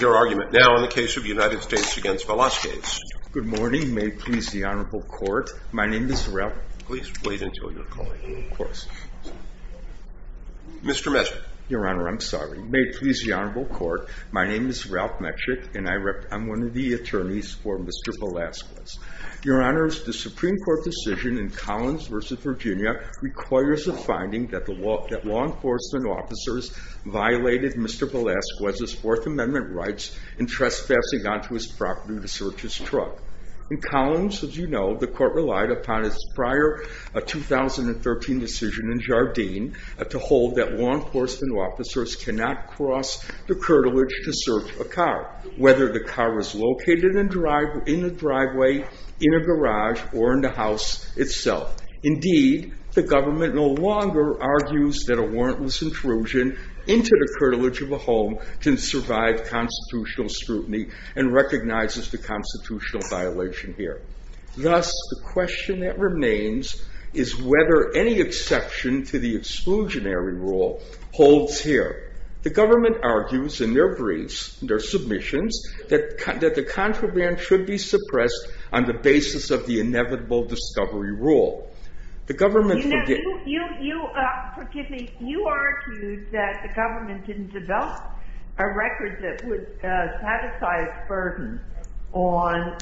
Your argument now in the case of United States v. Velazquez Good morning, may it please the Honorable Court, my name is Ralph Please wait until you're calling Of course Mr. Metchik Your Honor, I'm sorry May it please the Honorable Court, my name is Ralph Metchik and I'm one of the attorneys for Mr. Velazquez Your Honor, the Supreme Court decision in Collins v. Virginia requires a finding that law enforcement officers violated Mr. Velazquez's Fourth Amendment rights in trespassing onto his property to search his truck In Collins, as you know, the court relied upon its prior 2013 decision in Jardine to hold that law enforcement officers cannot cross the curtilage to search a car whether the car was located in a driveway, in a garage, or in the house itself Indeed, the government no longer argues that a warrantless intrusion into the curtilage of a home can survive constitutional scrutiny and recognizes the constitutional violation here Thus, the question that remains is whether any exception to the exclusionary rule holds here The government argues in their briefs, in their submissions that the contraband should be suppressed on the basis of the inevitable discovery rule The government You argued that the government didn't develop a record that would satisfy a burden on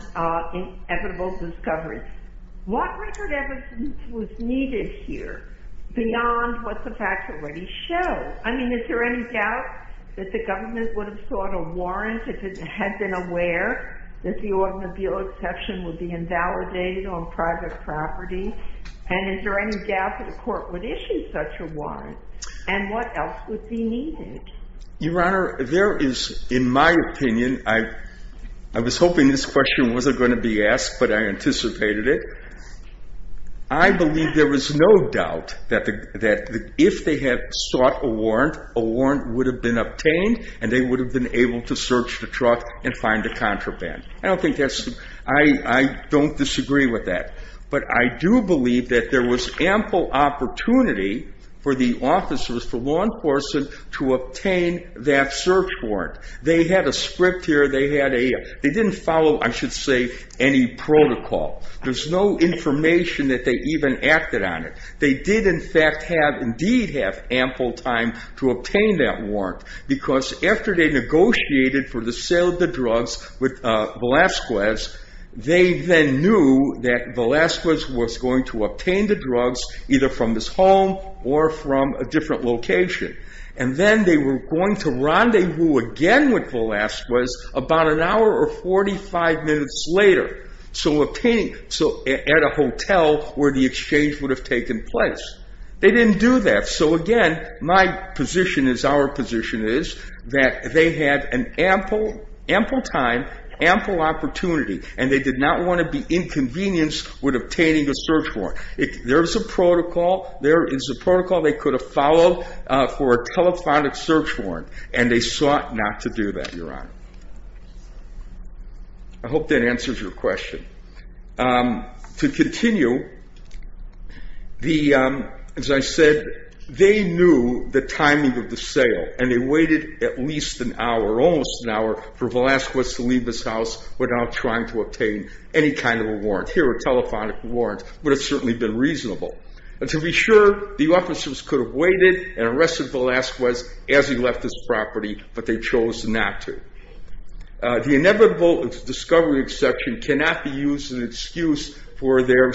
inevitable discovery What record evidence was needed here beyond what the facts already show? I mean, is there any doubt that the government would have sought a warrant if it had been aware that the automobile exception would be invalidated on private property? And is there any doubt that the court would issue such a warrant? And what else would be needed? Your Honor, there is, in my opinion I was hoping this question wasn't going to be asked but I anticipated it I believe there is no doubt that if they had sought a warrant a warrant would have been obtained and they would have been able to search the truck and find the contraband I don't disagree with that but I do believe that there was ample opportunity for the officers, for law enforcement to obtain that search warrant They had a script here They had a They didn't follow, I should say, any protocol There's no information that they even acted on it They did in fact have indeed have ample time to obtain that warrant because after they negotiated for the sale of the drugs with Velazquez they then knew that Velazquez was going to obtain the drugs either from his home or from a different location and then they were going to rendezvous again with Velazquez about an hour or 45 minutes later so at a hotel where the exchange would have taken place They didn't do that So again, my position is, our position is that they had an ample time ample opportunity and they did not want to be inconvenienced with obtaining a search warrant There is a protocol There is a protocol they could have followed for a telephonic search warrant and they sought not to do that, Your Honor I hope that answers your question To continue they knew the timing of the sale and they waited at least an hour almost an hour for Velazquez to leave his house without trying to obtain any kind of a warrant Here, a telephonic warrant would have certainly been reasonable To be sure, the officers could have waited and arrested Velazquez as he left his property but they chose not to The inevitable discovery exception cannot be used as an excuse for any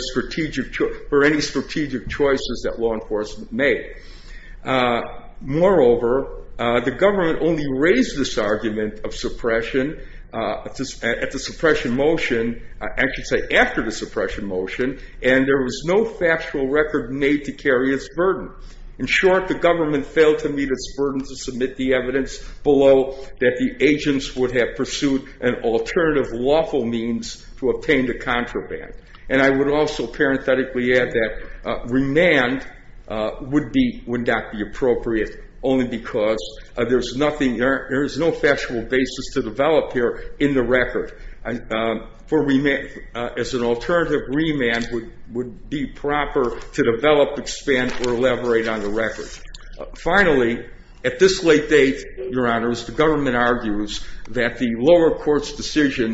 strategic choices that law enforcement made Moreover, the government only raised this argument of suppression at the suppression motion I should say after the suppression motion and there was no factual record made to carry its burden In short, the government failed to meet its burden to submit the evidence below that the agents would have pursued an alternative lawful means to obtain the contraband and I would also parenthetically add that remand would not be appropriate only because there is no factual basis to develop here in the record As an alternative, remand would be proper to develop, expand, or elaborate on the record Finally, at this late date, Your Honor the government argues that the lower court's decision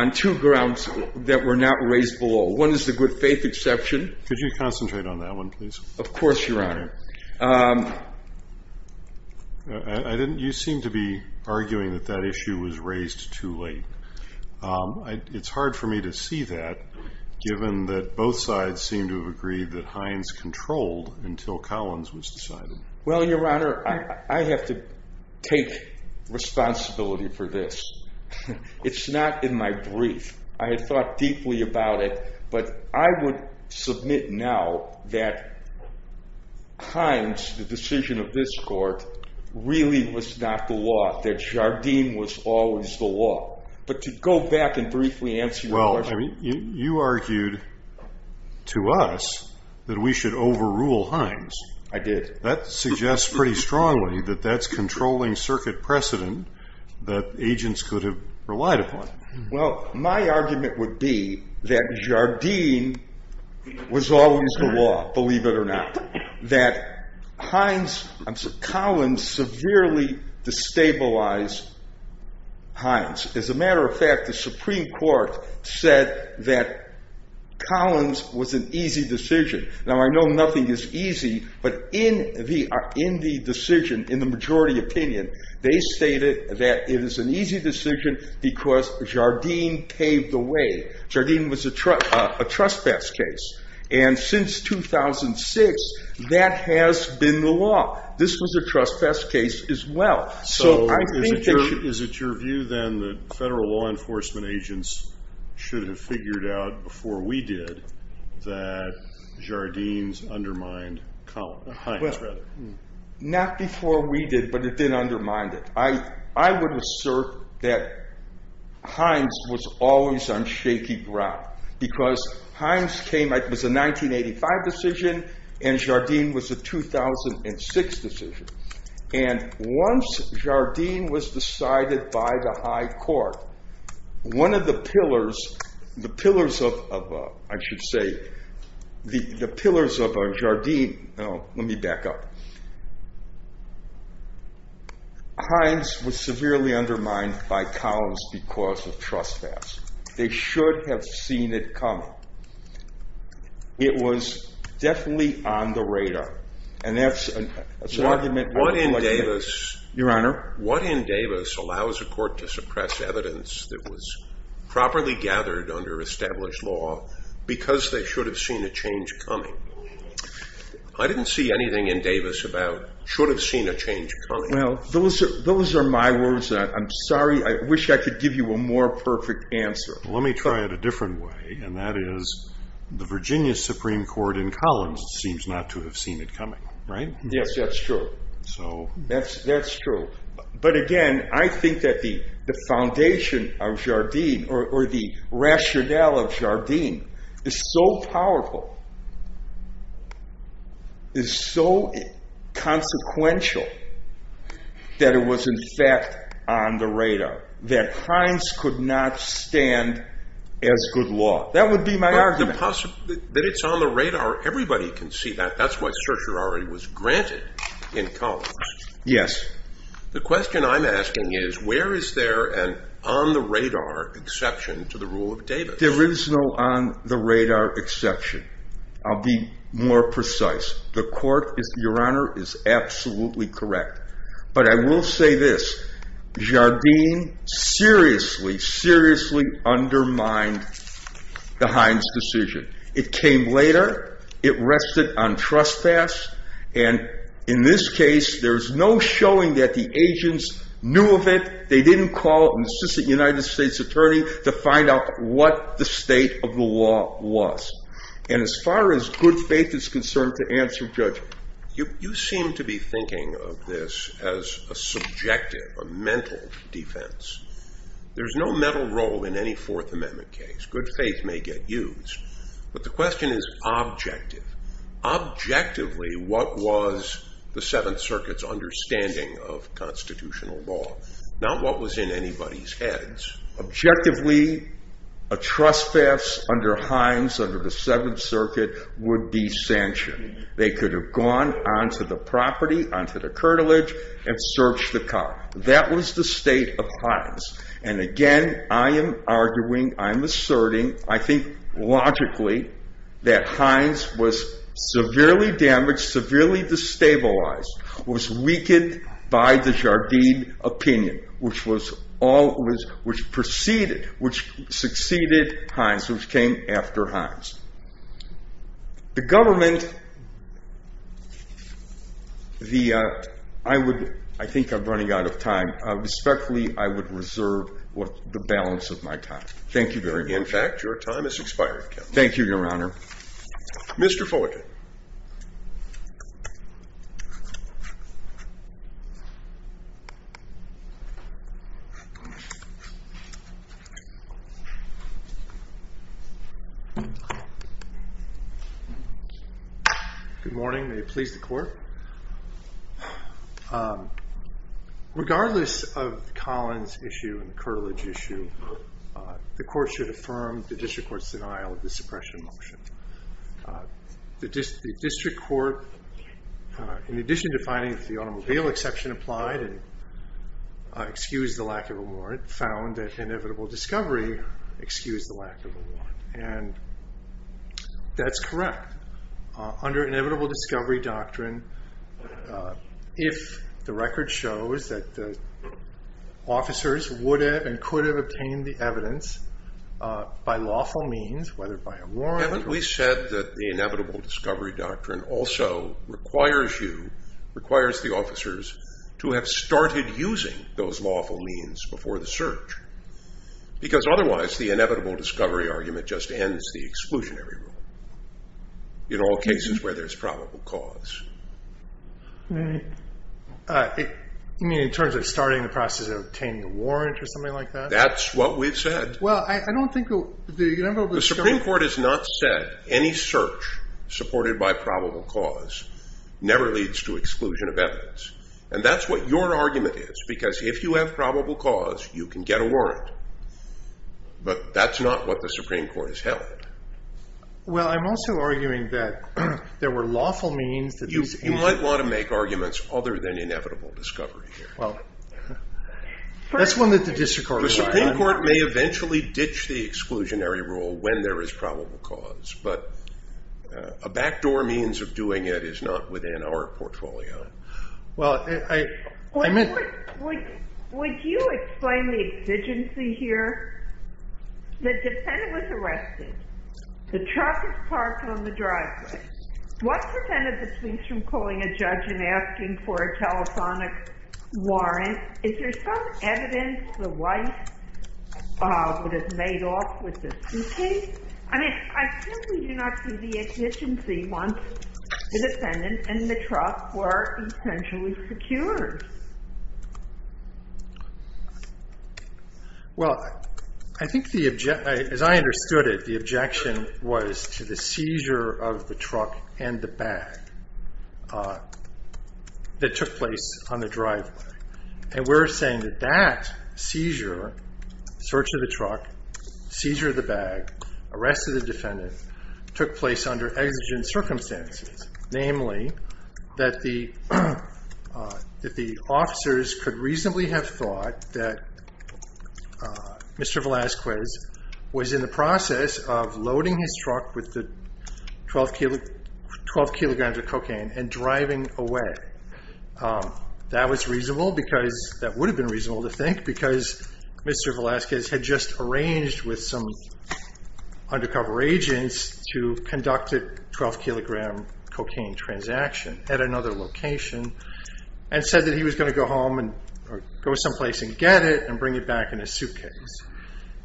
on two grounds that were not raised below One is the good faith exception Could you concentrate on that one, please? Of course, Your Honor You seem to be arguing that that issue was raised too late It's hard for me to see that given that both sides seem to have agreed that Hines controlled until Collins was decided Well, Your Honor, I have to take responsibility for this It's not in my brief I had thought deeply about it but I would submit now that Hines, the decision of this court really was not the law that Jardim was always the law But to go back and briefly answer your question You argued to us that we should overrule Hines I did That suggests pretty strongly that that's controlling circuit precedent that agents could have relied upon Well, my argument would be that Jardim was always the law believe it or not that Collins severely destabilized Hines As a matter of fact, the Supreme Court said that Collins was an easy decision Now, I know nothing is easy but in the decision, in the majority opinion they stated that it is an easy decision because Jardim paved the way Jardim was a trespass case and since 2006 that has been the law This was a trespass case as well So, is it your view then that federal law enforcement agents should have figured out before we did that Jardim's undermined Hines Not before we did, but it did undermine it I would assert that Hines was always on shaky ground because Hines was a 1985 decision and Jardim was a 2006 decision and once Jardim was decided by the High Court one of the pillars the pillars of, I should say the pillars of Jardim let me back up Hines was severely undermined by Collins because of trespass They should have seen it coming It was definitely on the radar and that's an argument Your Honor What in Davis allows a court to suppress evidence that was properly gathered under established law because they should have seen a change coming I didn't see anything in Davis about should have seen a change coming Those are my words I'm sorry, I wish I could give you a more perfect answer Let me try it a different way and that is the Virginia Supreme Court in Collins seems not to have seen it coming Right? Yes, that's true That's true But again, I think that the foundation of Jardim or the rationale of Jardim is so powerful is so consequential that it was in fact on the radar that Hines could not stand as good law That would be my argument But the possibility that it's on the radar everybody can see that that's what certiorari was granted in Collins Yes The question I'm asking is where is there an on the radar exception to the rule of Davis? There is no on the radar exception I'll be more precise The court, your honor, is absolutely correct But I will say this Jardim seriously, seriously undermined the Hines decision It came later It rested on trespass and in this case there's no showing that the agents knew of it They didn't call an assistant United States attorney to find out what the state of the law was And as far as good faith is concerned to answer Judge You seem to be thinking of this as a subjective, a mental defense There's no mental role in any Fourth Amendment case Good faith may get used But the question is objective Objectively, what was the Seventh Circuit's understanding of constitutional law? Not what was in anybody's heads Objectively, a trespass under Hines under the Seventh Circuit would be sanctioned They could have gone onto the property onto the curtilage and searched the car That was the state of Hines And again, I am arguing I'm asserting I think logically that Hines was severely damaged severely destabilized was weakened by the Jardim opinion which proceeded which succeeded Hines which came after Hines The government I think I'm running out of time Respectfully, I would reserve the balance of my time Thank you very much In fact, your time has expired Thank you, Your Honor Mr. Foyton Good morning May it please the Court Regardless of Collins' issue and the curtilage issue the Court should affirm the District Court's denial of the suppression motion The District Court in addition to finding that the automobile exception applied excused the lack of a warrant found that inevitable discovery excused the lack of a warrant And that's correct Under inevitable discovery doctrine if the record shows that the officers would have and could have obtained the evidence by lawful means whether by a warrant Haven't we said that the inevitable discovery doctrine also requires you requires the officers to have started using those lawful means before the search because otherwise the inevitable discovery argument just ends the exclusionary rule in all cases where there's probable cause You mean in terms of starting the process of obtaining a warrant or something like that? That's what we've said Well, I don't think the inevitable discovery The Supreme Court has not said any search supported by probable cause never leads to exclusion of evidence And that's what your argument is because if you have probable cause you can get a warrant But that's not what the Supreme Court has held Well, I'm also arguing that there were lawful means You might want to make arguments other than inevitable discovery That's one that the District Court The Supreme Court may eventually ditch the exclusionary rule when there is probable cause But a backdoor means of doing it is not within our portfolio Well, I meant Would you explain the exigency here? The defendant was arrested The truck is parked on the driveway What prevented the police from calling a judge and asking for a telephonic warrant? Is there some evidence the wife would have made off with the suitcase? I simply do not see the exigency once the defendant and the truck were essentially secured Well, I think the objection As I understood it the objection was to the seizure of the truck and the bag that took place on the driveway And we're saying that that seizure search of the truck seizure of the bag arrest of the defendant took place under exigent circumstances namely that the officers could reasonably have thought that Mr. Velazquez was in the process of loading his truck with the 12 kilograms of cocaine and driving away That was reasonable because that would have been reasonable to think because Mr. Velazquez had just arranged with some undercover agents to conduct a 12 kilogram cocaine transaction at another location and said that he was going to go home or go someplace and get it and bring it back in a suitcase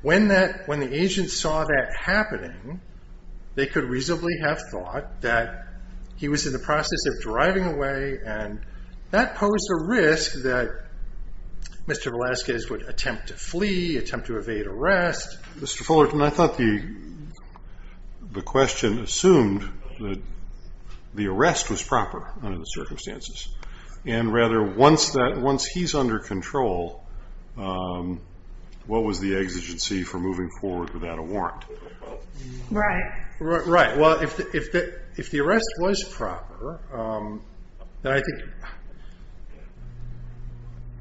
When the agents saw that happening they could reasonably have thought that he was in the process of driving away and that posed a risk that Mr. Velazquez would attempt to flee attempt to evade arrest Mr. Fullerton, I thought the the question assumed that the arrest was proper under the circumstances and rather once he's under control what was the exigency for moving forward without a warrant? Right Right, well if the arrest was proper then I think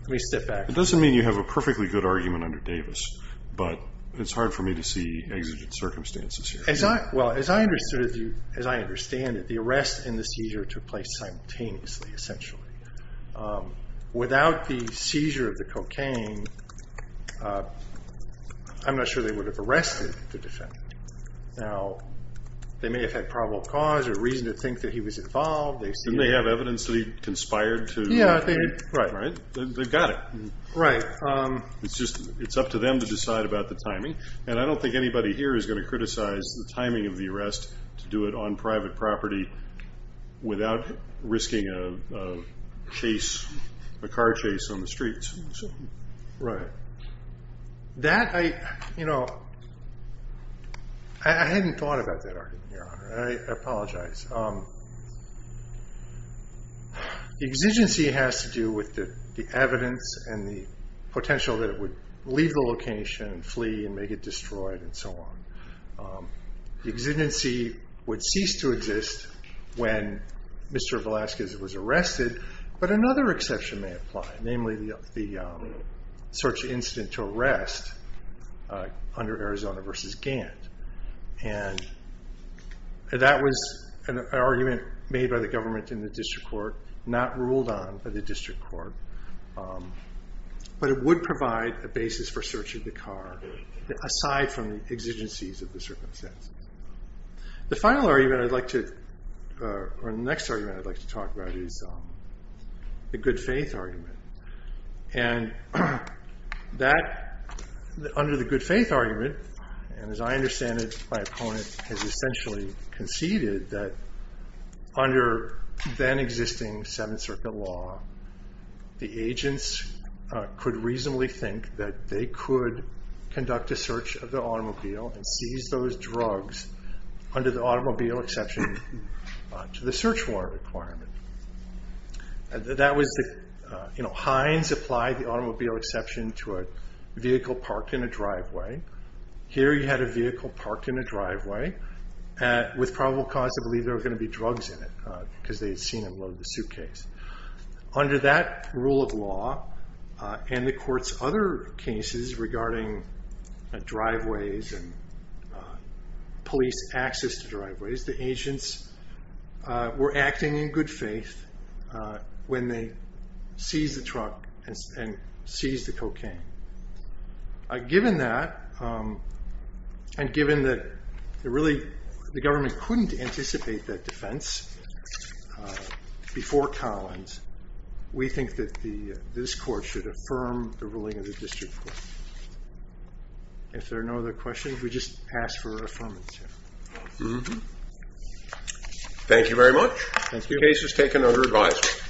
Let me step back It doesn't mean you have a perfectly good argument under Davis but it's hard for me to see exigent circumstances here Well, as I understand it the arrest and the seizure took place simultaneously essentially Without the seizure of the cocaine I'm not sure they would have arrested the defendant Now, they may have had probable cause or reason to think that he was involved Didn't they have evidence that he conspired to Yeah, they did They got it Right It's up to them to decide about the timing and I don't think anybody here is going to criticize the timing of the arrest to do it on private property without risking a chase a car chase on the streets Right That, you know I hadn't thought about that argument, Your Honor I apologize The exigency has to do with the evidence and the potential that it would leave the location, flee, and make it destroyed and so on The exigency would cease to exist when Mr. Velasquez was arrested but another exception may apply namely the search incident to arrest under Arizona v. Gant and that was an argument made by the government in the district court not ruled on by the district court but it would provide a basis for search of the car aside from the exigencies of the circumstances The final argument I'd like to or the next argument I'd like to talk about is the good faith argument and that under the good faith argument and as I understand it, my opponent has essentially conceded that under then existing Seventh Circuit law the agents could reasonably think that they could conduct a search of the automobile and seize those drugs under the automobile exception to the search warrant requirement That was the Hines applied the automobile exception to a vehicle parked in a driveway Here you had a vehicle parked in a driveway with probable cause to believe there were going to be drugs in it because they had seen it below the suitcase Under that rule of law and the court's other cases regarding driveways and police access to driveways, the agents were acting in good faith when they seized the truck and seized the cocaine Given that and given that the government couldn't anticipate that defense before Collins we think that this court should affirm the ruling of the district court If there are no other questions, we just ask for affirmation Thank you very much. The case was taken under advisory